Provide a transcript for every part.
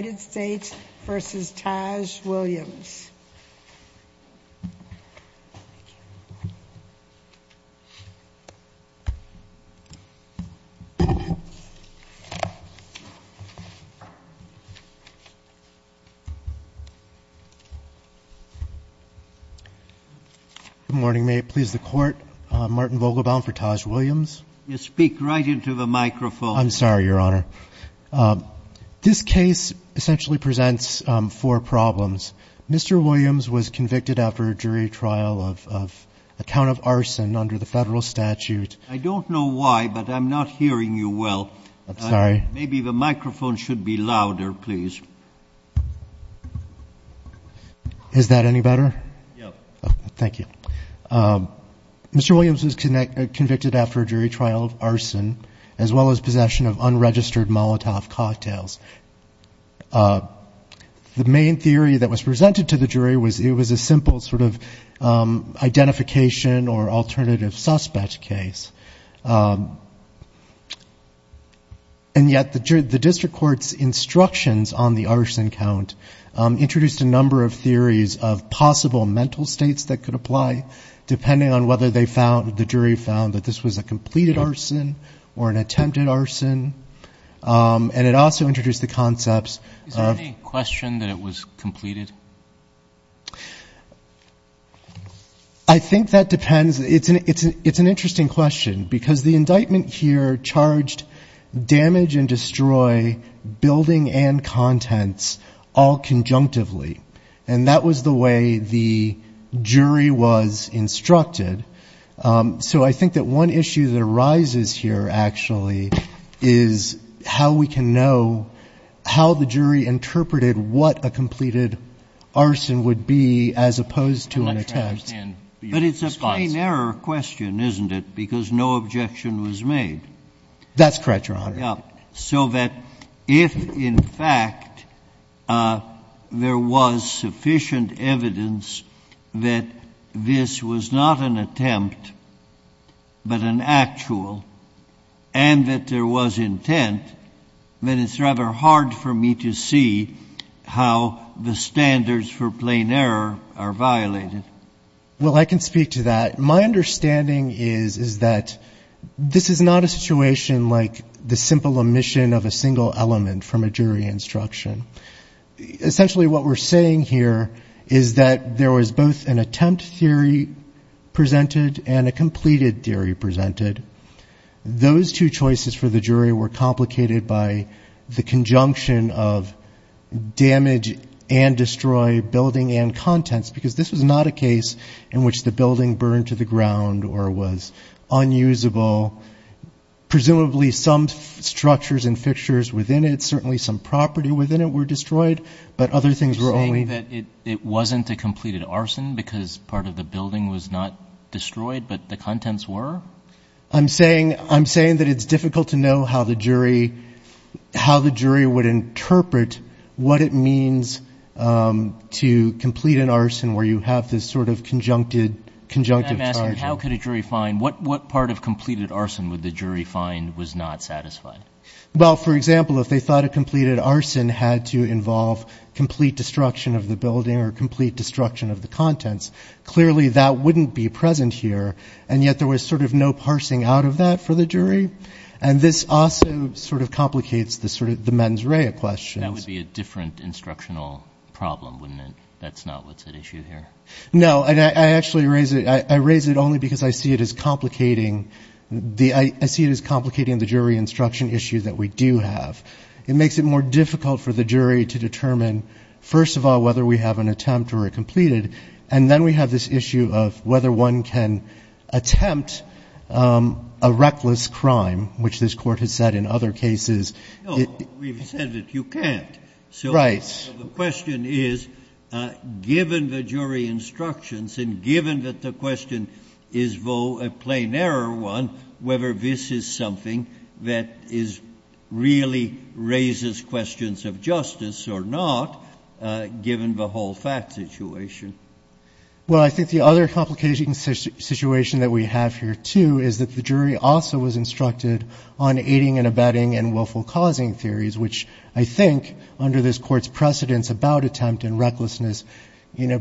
Good morning. May it please the Court. I'm Martin Vogelbaum for Taj Williams. You speak right into the microphone. I'm sorry, Your Honor. This case essentially presents four problems. Mr. Williams was convicted after a jury trial of account of arson under the federal statute. I don't know why, but I'm not hearing you well. I'm sorry. Maybe the microphone should be louder, please. Is that any better? Thank you. Mr. Williams was convicted after a jury trial of arson as well as possession of unregistered Molotov cocktails. The main theory that was presented to the jury was it was a simple sort of identification or alternative suspect case. And yet the district court's instructions on the arson count introduced a number of theories of possible mental states that could apply depending on whether the jury found that this was a completed arson or an attempted arson. And it also introduced the concepts of... Is there any question that it was completed? I think that depends. It's an interesting question because the indictment here charged damage and destroy building and contents all conjunctively. And that was the way the jury was instructed. So I think that one issue that arises here actually is how we can know how the jury interpreted what a completed arson would be as opposed to an attempt. But it's a plain error question, isn't it? Because no objection was made. That's correct, Your Honor. Yeah. So that if, in fact, there was sufficient evidence that this was not an attempt but an actual and that there was intent, then it's rather hard for me to see how the standards for plain error are violated. Well, I can speak to that. My understanding is that this is not a situation like the simple omission of a single element from a jury instruction. Essentially what we're saying here is that there was both an attempt theory presented and a completed theory presented. Those two choices for the jury were complicated by the conjunction of damage and destroy building and contents because this was not a case in which the building burned to the ground or was unusable. Presumably some structures and fixtures within it, certainly some property within it were destroyed, but other things were only... I'm saying that it's difficult to know how the jury would interpret what it means to complete an arson where you have this sort of conjunctive charge. I'm asking how could a jury find... What part of completed arson would the jury find was not satisfying? Well, for example, if they thought a completed arson had to involve complete destruction of the building or complete destruction of the contents, clearly that wouldn't be present here. And yet there was sort of no parsing out of that for the jury. And this also sort of complicates the mens rea questions. That would be a different instructional problem, wouldn't it? That's not what's at issue here. No. I actually raise it only because I see it as complicating the jury instruction issue that we do have. It makes it more difficult for the jury to determine, first of all, whether we have an attempt or a completed. And then we have this issue of whether one can attempt a reckless crime, which this court has said in other cases... No. We've said that you can't. Right. The question is, given the jury instructions and given that the question is, though, a plain error one, whether this is something that is really raises questions of justice or not, given the whole fact situation. Well, I think the other complication situation that we have here, too, is that the jury also was instructed on aiding and abetting and willful causing theories, which I think under this court's precedents about attempt and recklessness, you know,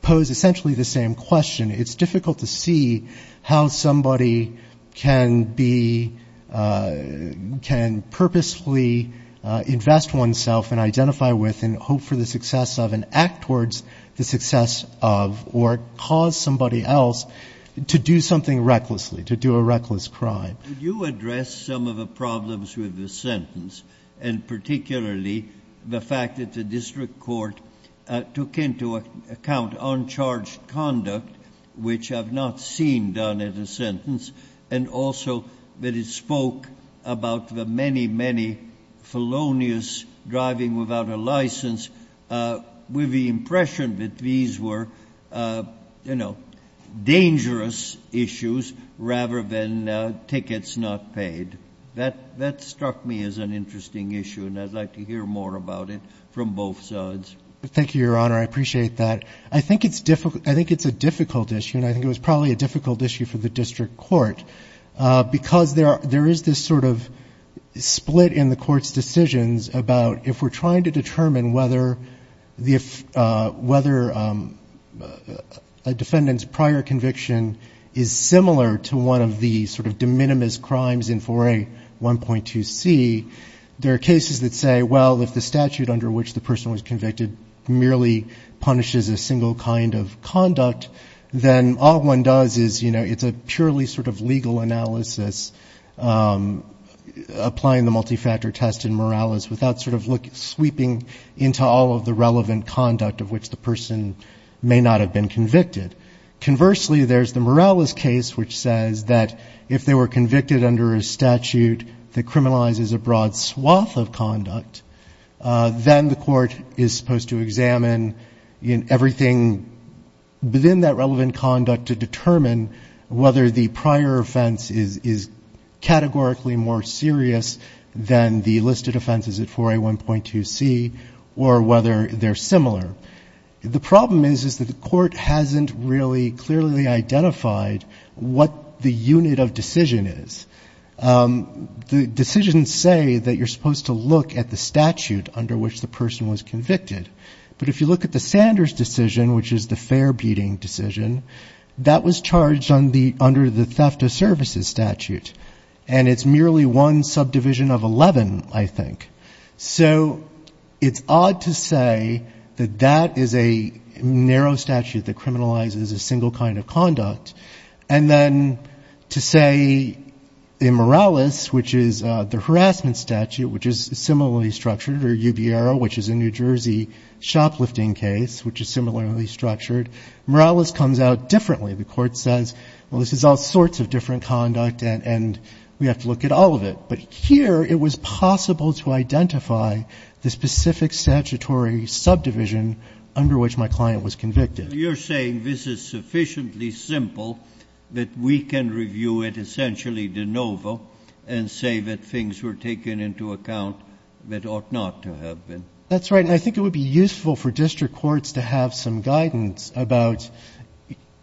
pose essentially the same question. It's difficult to see how somebody can be, can purposefully invest oneself and identify with and hope for the success of and act towards the success of or cause somebody else to do something recklessly, to do a reckless crime. Could you address some of the problems with the sentence and particularly the fact that the district court took into account uncharged conduct, which I've not seen done at a sentence, and also that it spoke about the many, many felonious driving without a license, with the impression that these were, you know, dangerous issues rather than tickets not paid. That struck me as an interesting issue, and I'd like to hear more about it from both sides. Thank you, Your Honor. I appreciate that. I think it's a difficult issue, and I think it was probably a difficult issue for the district court, because there is this sort of split in the court's decisions about if we're trying to determine whether a defendant's prior conviction is similar to one of the sort of de minimis crimes in 4A.1.2C, there are cases that say, well, if the statute under which the person was convicted merely punishes a single kind of conduct, then all one does is, you know, it's a purely sort of legal analysis, applying the multifactor test in Morales, without sort of sweeping into all of the relevant conduct of which the person may not have been convicted. Conversely, there's the Morales case, which says that if they were convicted under a statute that criminalizes a broad swath of conduct, then the court is supposed to examine everything within that relevant conduct to determine whether the prior offense is categorically more serious than the listed offenses at 4A.1.2C, or whether they're similar. The problem is, is that the court hasn't really clearly identified what the unit of decision is. The decisions say that you're supposed to look at the statute under which the person was convicted. But if you look at the Sanders decision, which is the fair-beating decision, that was charged under the theft of services statute, and it's merely one subdivision of 11, I think. So it's odd to say that that is a narrow statute that criminalizes a single kind of conduct, and then to say, you know, in Morales, which is the harassment statute, which is similarly structured, or UBRO, which is a New Jersey shoplifting case, which is similarly structured, Morales comes out differently. The court says, well, this is all sorts of different conduct, and we have to look at all of it. But here it was possible to identify the specific statutory subdivision under which my client was convicted. You're saying this is sufficiently simple that we can review it essentially de novo and say that things were taken into account that ought not to have been? That's right, and I think it would be useful for district courts to have some guidance about,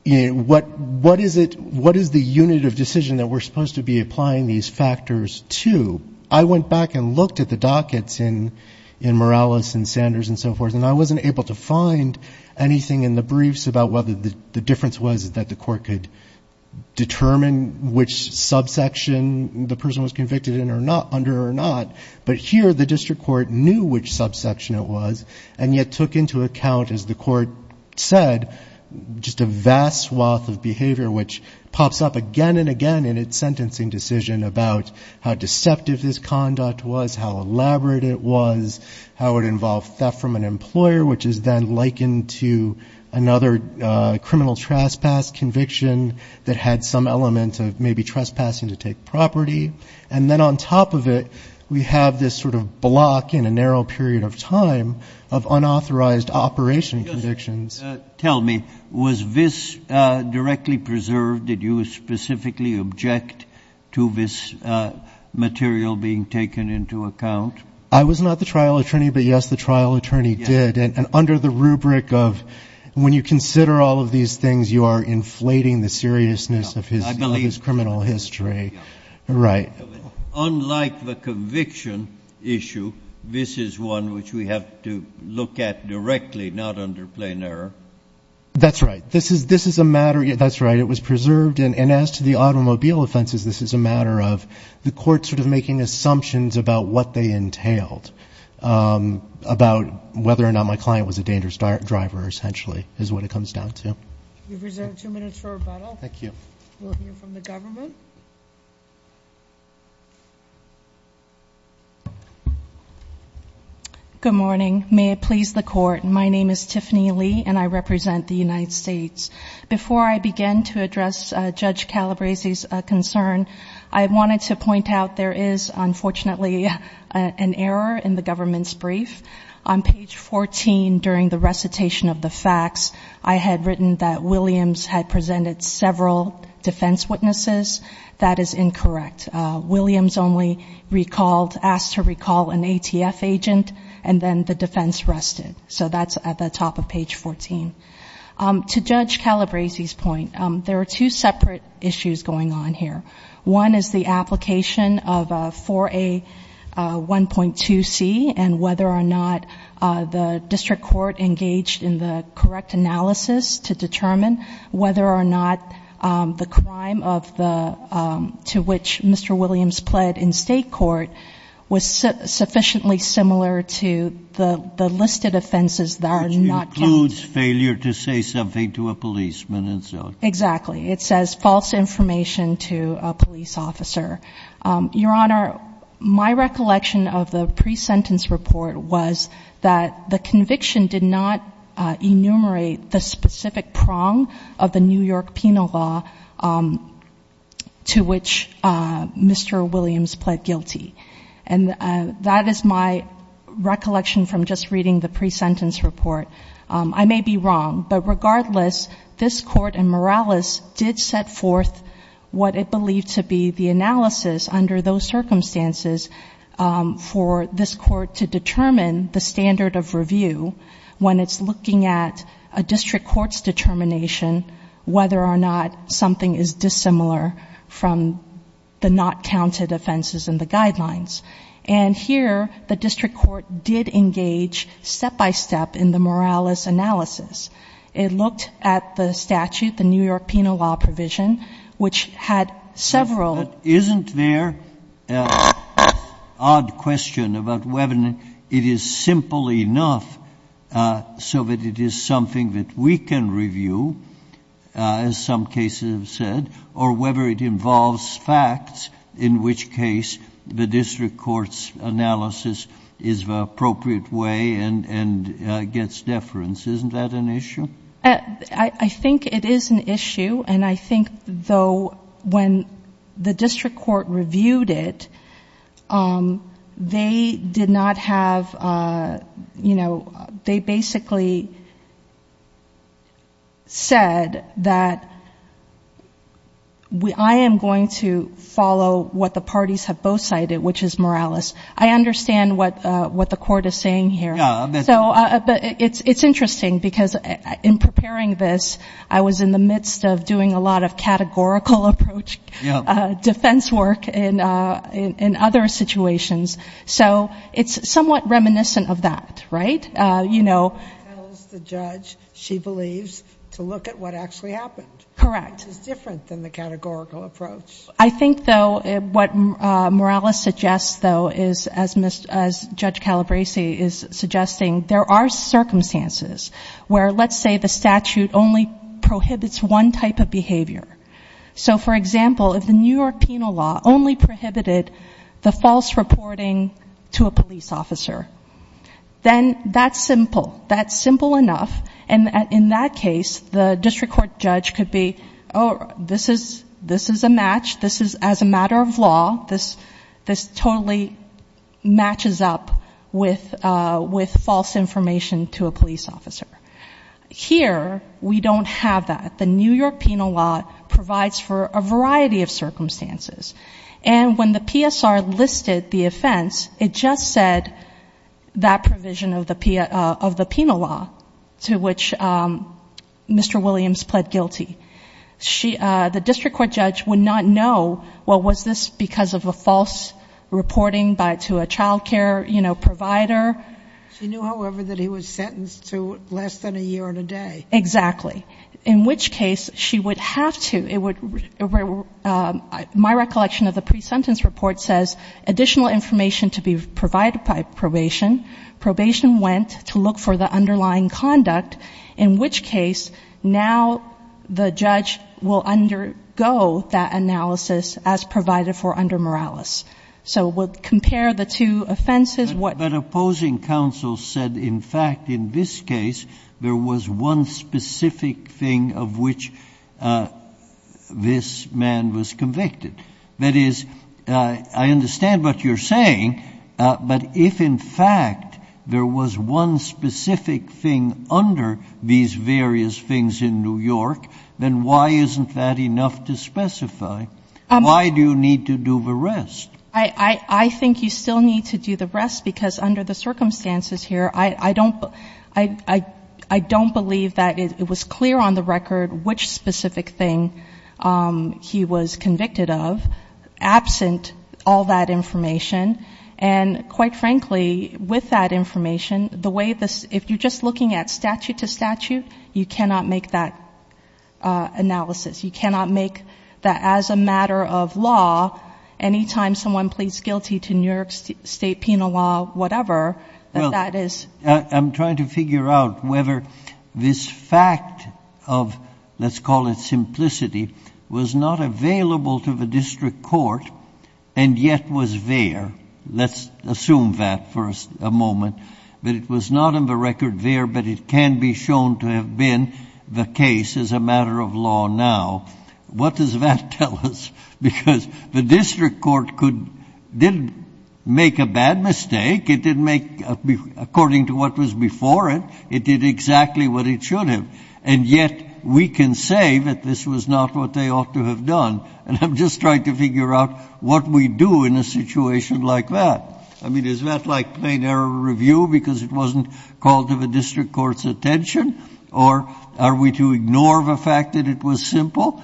you know, what is it, what is the unit of decision that we're supposed to be applying these factors to? I went back and looked at the dockets in Morales and Sanders and so forth, and I wasn't able to find anything in the briefs about whether the difference was that the court could determine which subsection the person was convicted under or not. But here the district court knew which subsection it was, and yet took into account, as the court said, just a vast swath of behavior, which pops up again and again in its sentencing decision about how deceptive this conduct was, how elaborate it was, how it involved theft from an employer, which is then likened to another criminal trespass conviction that had some element of maybe trespassing to take property. And then on top of it, we have this sort of block in a narrow period of time of unauthorized operation convictions. Tell me, was this directly preserved? Did you specifically object to this material being taken into account? I was not the trial attorney, but, yes, the trial attorney did. And under the rubric of when you consider all of these things, you are inflating the seriousness of his criminal history. Right. Unlike the conviction issue, this is one which we have to look at directly, not under plain error. That's right. This is a matter, that's right, it was preserved. And as to the automobile offenses, this is a matter of the court sort of making assumptions about what they entailed, about whether or not my client was a dangerous driver, essentially, is what it comes down to. We've reserved two minutes for rebuttal. We'll hear from the government. Good morning. May it please the court, my name is Tiffany Lee, and I represent the United States. Before I begin to address Judge Calabresi's concern, I wanted to point out there is, unfortunately, an error in the government's brief. On page 14, during the recitation of the facts, I had written that Williams had presented several defense witnesses. That is incorrect. Williams only asked to recall an ATF agent, and then the defense rested. So that's at the top of page 14. To Judge Calabresi's point, there are two separate issues going on here. One is the application of 4A1.2C, and whether or not the district court engaged in the correct analysis to determine whether or not the crime to which Mr. Williams pled in state court was sufficiently similar to the listed offenses that are not counted. Which includes failure to say something to a policeman and so on. Exactly. It says false information to a police officer. Your Honor, my recollection of the pre-sentence report was that the conviction did not enumerate the extent of the New York penal law to which Mr. Williams pled guilty. And that is my recollection from just reading the pre-sentence report. I may be wrong, but regardless, this Court in Morales did set forth what it believed to be the analysis under those circumstances for this Court to determine the standard of review when it's looking at a district court's determination whether or not something is dissimilar from the not counted offenses in the guidelines. And here, the district court did engage step-by-step in the Morales analysis. It looked at the statute, the New York penal law provision, which had several Isn't there an odd question about whether it is simple enough so that it is something that we can review? As some cases have said. Or whether it involves facts, in which case the district court's analysis is the appropriate way and gets deference. Isn't that an issue? I think it is an issue, and I think, though, when the district court reviewed it, they did not have, you know, they basically said that I am going to follow what the parties have both cited, which is Morales. I understand what the Court is saying here. But it's interesting, because in preparing this, I was in the midst of doing a lot of categorical approach, defense work, in other situations, so it's somewhat reminiscent of that, right? You know... Correct. I think, though, what Morales suggests, though, is, as Judge Calabresi is suggesting, there are circumstances where, let's say, the statute only prohibits one type of behavior. So, for example, if the New York penal law only prohibited the false reporting to a police officer, then that's simple. That's simple enough, and in that case, the district court judge could be, oh, this is a match. This is, as a matter of law, this totally matches up with false information to a police officer. Here, we don't have that. The New York penal law provides for a variety of circumstances, and when the PSR listed the offense, it just said that provision of the penal law, to which Mr. Williams pled guilty. The district court judge would not know, well, was this because of a false reporting to a child care, you know, provider? She knew, however, that he was sentenced to less than a year and a day. Exactly. In which case, she would have to, it would, my recollection of the pre-sentence report says additional information to be provided by probation. Probation went to look for the underlying conduct, in which case now the judge will undergo that analysis as provided for under Morales. So we'll compare the two offenses. But opposing counsel said, in fact, in this case, there was one specific thing of which this man was convicted. That is, I understand what you're saying, but if in fact there was one specific thing under these various things in New York, then why isn't that enough to specify? Why do you need to do the rest? I think you still need to do the rest, because under the circumstances here, I don't believe that it was clear on the record which specific thing he was convicted of, absent all that information. And quite frankly, with that information, the way this, if you're just looking at statute to statute, you cannot make that analysis. You cannot make that as a matter of law, anytime someone pleads guilty to New York State penal law, whatever, that that is. I'm trying to figure out whether this fact of, let's call it simplicity, was not available to the district court and yet was there. Let's assume that for a moment, that it was not on the record there, but it can be shown to have been the case as a matter of law now. What does that tell us? Because the district court could, didn't make a bad mistake. It didn't make, according to what was before it, it did exactly what it should have. And yet we can say that this was not what they ought to have done. And I'm just trying to figure out what we do in a situation like that. I mean, is that like plain error review, because it wasn't called to the district court's attention, or are we to ignore the fact that it was simple?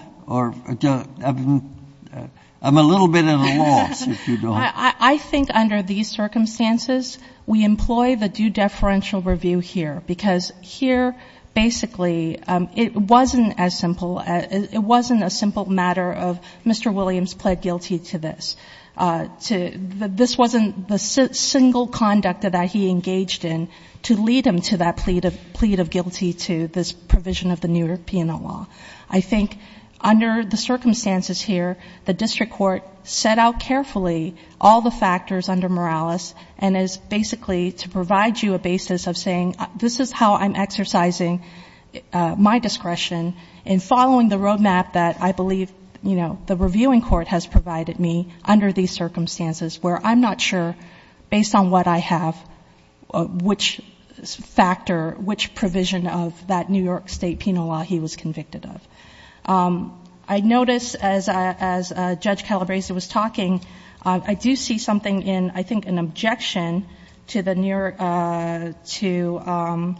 I'm a little bit at a loss, if you don't. I think under these circumstances, we employ the due deferential review here, because here, basically, it wasn't as simple. It wasn't a simple matter of Mr. Williams pled guilty to this. This wasn't the single conduct that he engaged in to lead him to that plea of guilty to this provision of the new P&L law. I think under the circumstances here, the district court set out carefully all the factors under Morales and is basically to provide you a basis of saying, this is how I'm exercising my discretion in following the roadmap that I believe, you know, the reviewing court has provided me under these circumstances, where I'm not sure, based on what I have, which factor, which provision of that New York State penal law he was convicted of. I notice, as Judge Calabresi was talking, I do see something in, I think, an objection to the New York, to,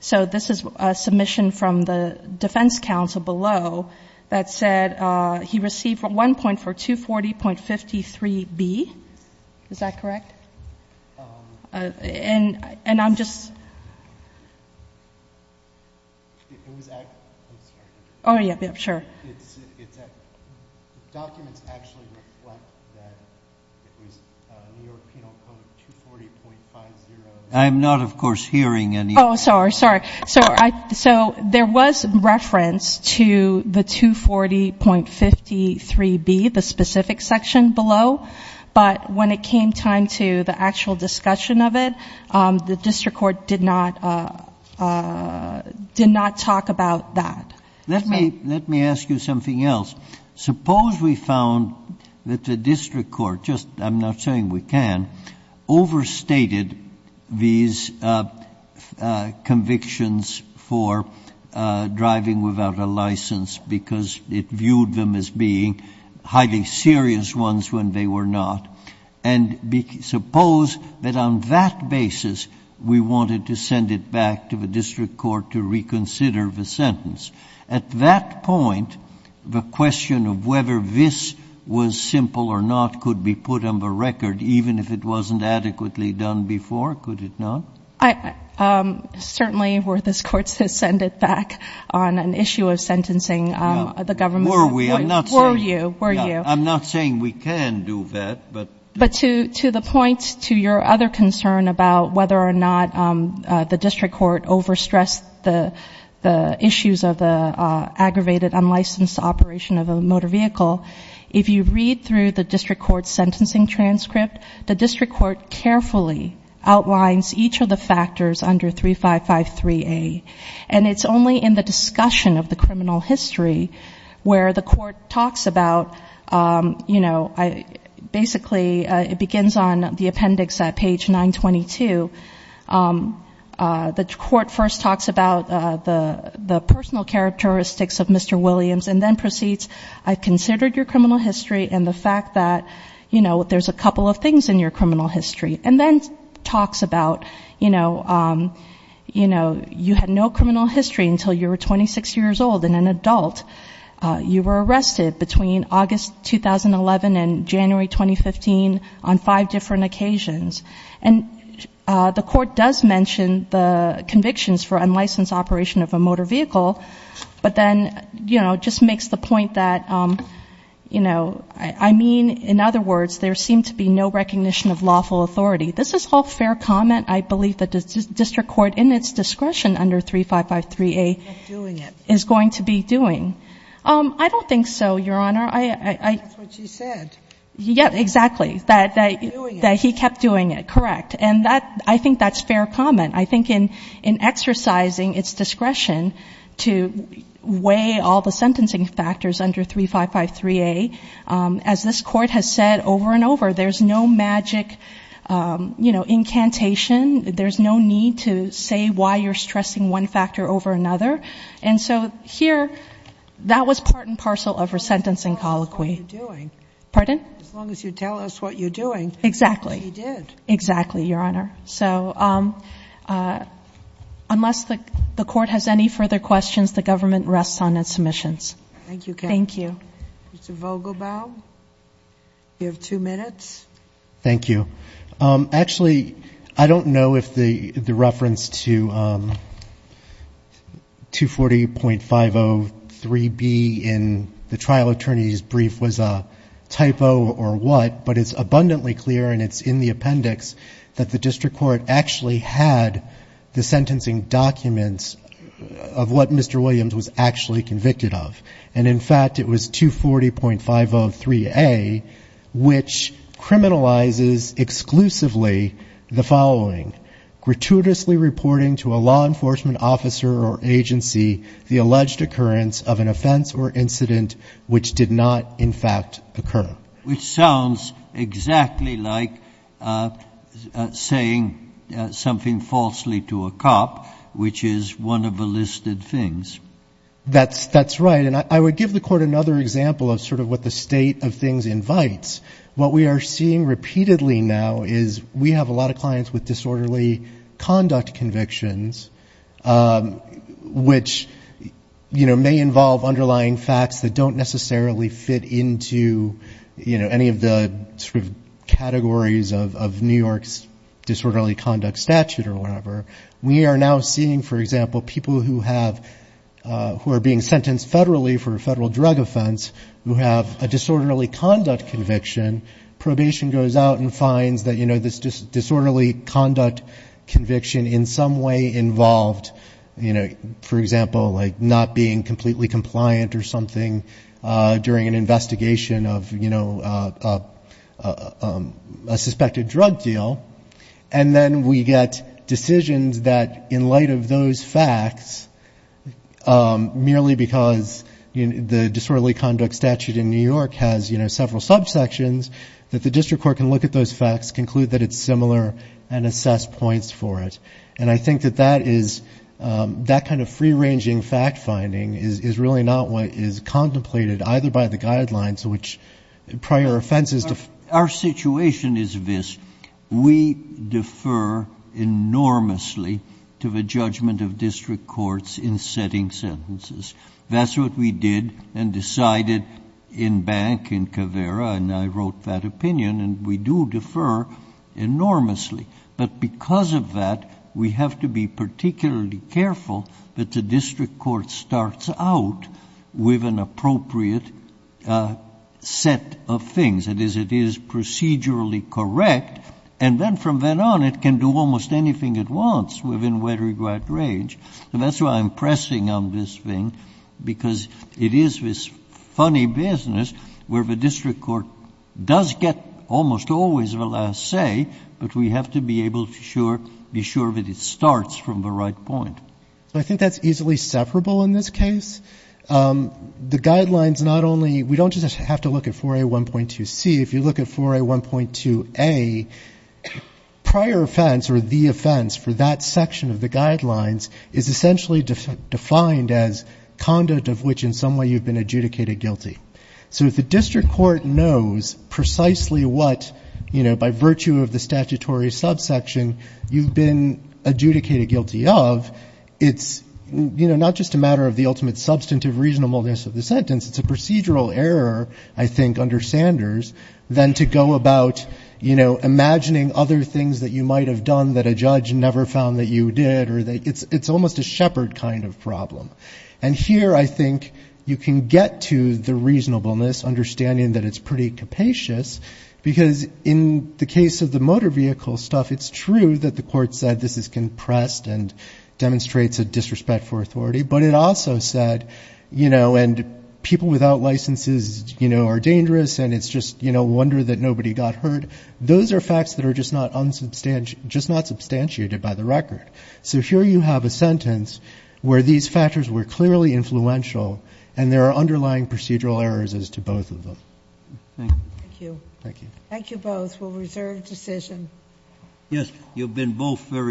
so this is a submission from the defense counsel below that said he received one point for 240.53B. Is that correct? And I'm just. I'm sorry. Oh, yeah, sure. Documents actually reflect that it was New York penal code 240.50. I'm not, of course, hearing anything. Oh, sorry, sorry. So there was reference to the 240.53B, the specific section below, but when it came time to the actual discussion of it, the district court did not, did not talk about that. Let me ask you something else. Suppose we found that the district court, just I'm not saying we can, overstated these convictions for driving without a license because it viewed them as being highly serious ones when they were not, and suppose that on that basis we wanted to send it back to the district court to reconsider the sentence. At that point, the question of whether this was simple or not could be put on the floor. Could it not? Certainly, were this court to send it back on an issue of sentencing, the government would. Were we? I'm not saying. Were you? Were you? I'm not saying we can do that, but. But to the point to your other concern about whether or not the district court overstressed the issues of the aggravated unlicensed operation of a motor vehicle, if you read through the district court's sentencing transcript, the district court carefully outlines each of the factors under 3553A. And it's only in the discussion of the criminal history where the court talks about, you know, basically it begins on the appendix at page 922. The court first talks about the personal characteristics of Mr. Williams and then proceeds, I considered your criminal history and the fact that, you know, there's a couple of things in your criminal history. And then talks about, you know, you had no criminal history until you were 26 years old and an adult. You were arrested between August 2011 and January 2015 on five different occasions. And the court does mention the convictions for unlicensed operation of a motor vehicle, but then, you know, just makes the point that, you know, I mean, in other words, there seemed to be no recognition of lawful authority. This is all fair comment. I believe that the district court in its discretion under 3553A is going to be doing. I don't think so, Your Honor. I don't think that's what she said. Yeah, exactly. That he kept doing it. Correct. And I think that's fair comment. I think in exercising its discretion to weigh all the sentencing factors under 3553A, as this court has said over and over, there's no magic, you know, incantation. There's no need to say why you're stressing one factor over another. And so here, that was part and parcel of her sentencing colloquy. As long as you tell us what you're doing. Exactly. She did. Exactly, Your Honor. So unless the court has any further questions, the government rests on its submissions. Thank you, counsel. Thank you. Mr. Vogelbaum, you have two minutes. Thank you. Actually, I don't know if the reference to 240.503B in the trial attorney's brief was a typo or what, but it's abundantly clear and it's in the appendix that the district court actually had the sentencing documents of what Mr. Williams was actually convicted of. And, in fact, it was 240.503A, which criminalizes exclusively the following. Gratuitously reporting to a law enforcement officer or agency the alleged occurrence of an offense or incident which did not, in fact, occur. Which sounds exactly like saying something falsely to a cop, which is one of the listed things. That's right. And I would give the court another example of sort of what the state of things invites. What we are seeing repeatedly now is we have a lot of clients with disorderly conduct convictions, which, you know, may involve underlying facts that don't necessarily fit into, you know, any of the sort of categories of New York's disorderly conduct statute or whatever. We are now seeing, for example, people who are being sentenced federally for a federal drug offense who have a disorderly conduct conviction. Probation goes out and finds that, you know, this disorderly conduct conviction in some way involved, you know, for example, like not being completely compliant or something during an investigation of, you know, a suspected drug deal. And then we get decisions that, in light of those facts, merely because the disorderly conduct statute in New York has, you know, several subsections, that the district court can look at those facts, conclude that it's similar, and assess points for it. And I think that that is, that kind of free-ranging fact-finding is really not what is contemplated, either by the guidelines, which prior offenses. Our situation is this. We defer enormously to the judgment of district courts in setting sentences. That's what we did and decided in Bank, in Caveira, and I wrote that opinion. And we do defer enormously. But because of that, we have to be particularly careful that the district court starts out with an appropriate set of things. That is, it is procedurally correct. And then from then on, it can do almost anything it wants within whatever range. And that's why I'm pressing on this thing, because it is this funny business where the district court does get almost always the last say, but we have to be able to be sure that it starts from the right point. So I think that's easily separable in this case. The guidelines not only, we don't just have to look at 4A1.2C. If you look at 4A1.2A, prior offense, or the offense for that section of the guidelines, is essentially defined as conduct of which in some way you've been adjudicated guilty. So if the district court knows precisely what, you know, by virtue of the statutory subsection, you've been adjudicated guilty of, it's, you know, not just a matter of the ultimate substantive reasonableness of the sentence. It's a procedural error, I think, under Sanders than to go about, you know, imagining other things that you might have done that a judge never found that you did. It's almost a shepherd kind of problem. And here I think you can get to the reasonableness, understanding that it's pretty capacious, because in the case of the motor vehicle stuff, it's true that the court said this is compressed and demonstrates a disrespect for authority. But it also said, you know, and people without licenses, you know, are dangerous, and it's just, you know, a wonder that nobody got hurt. Those are facts that are just not substantiated by the record. So here you have a sentence where these factors were clearly influential, and there are underlying procedural errors as to both of them. Thank you. Thank you. Thank you both. We'll reserve decision. Yes, you've been both very helpful.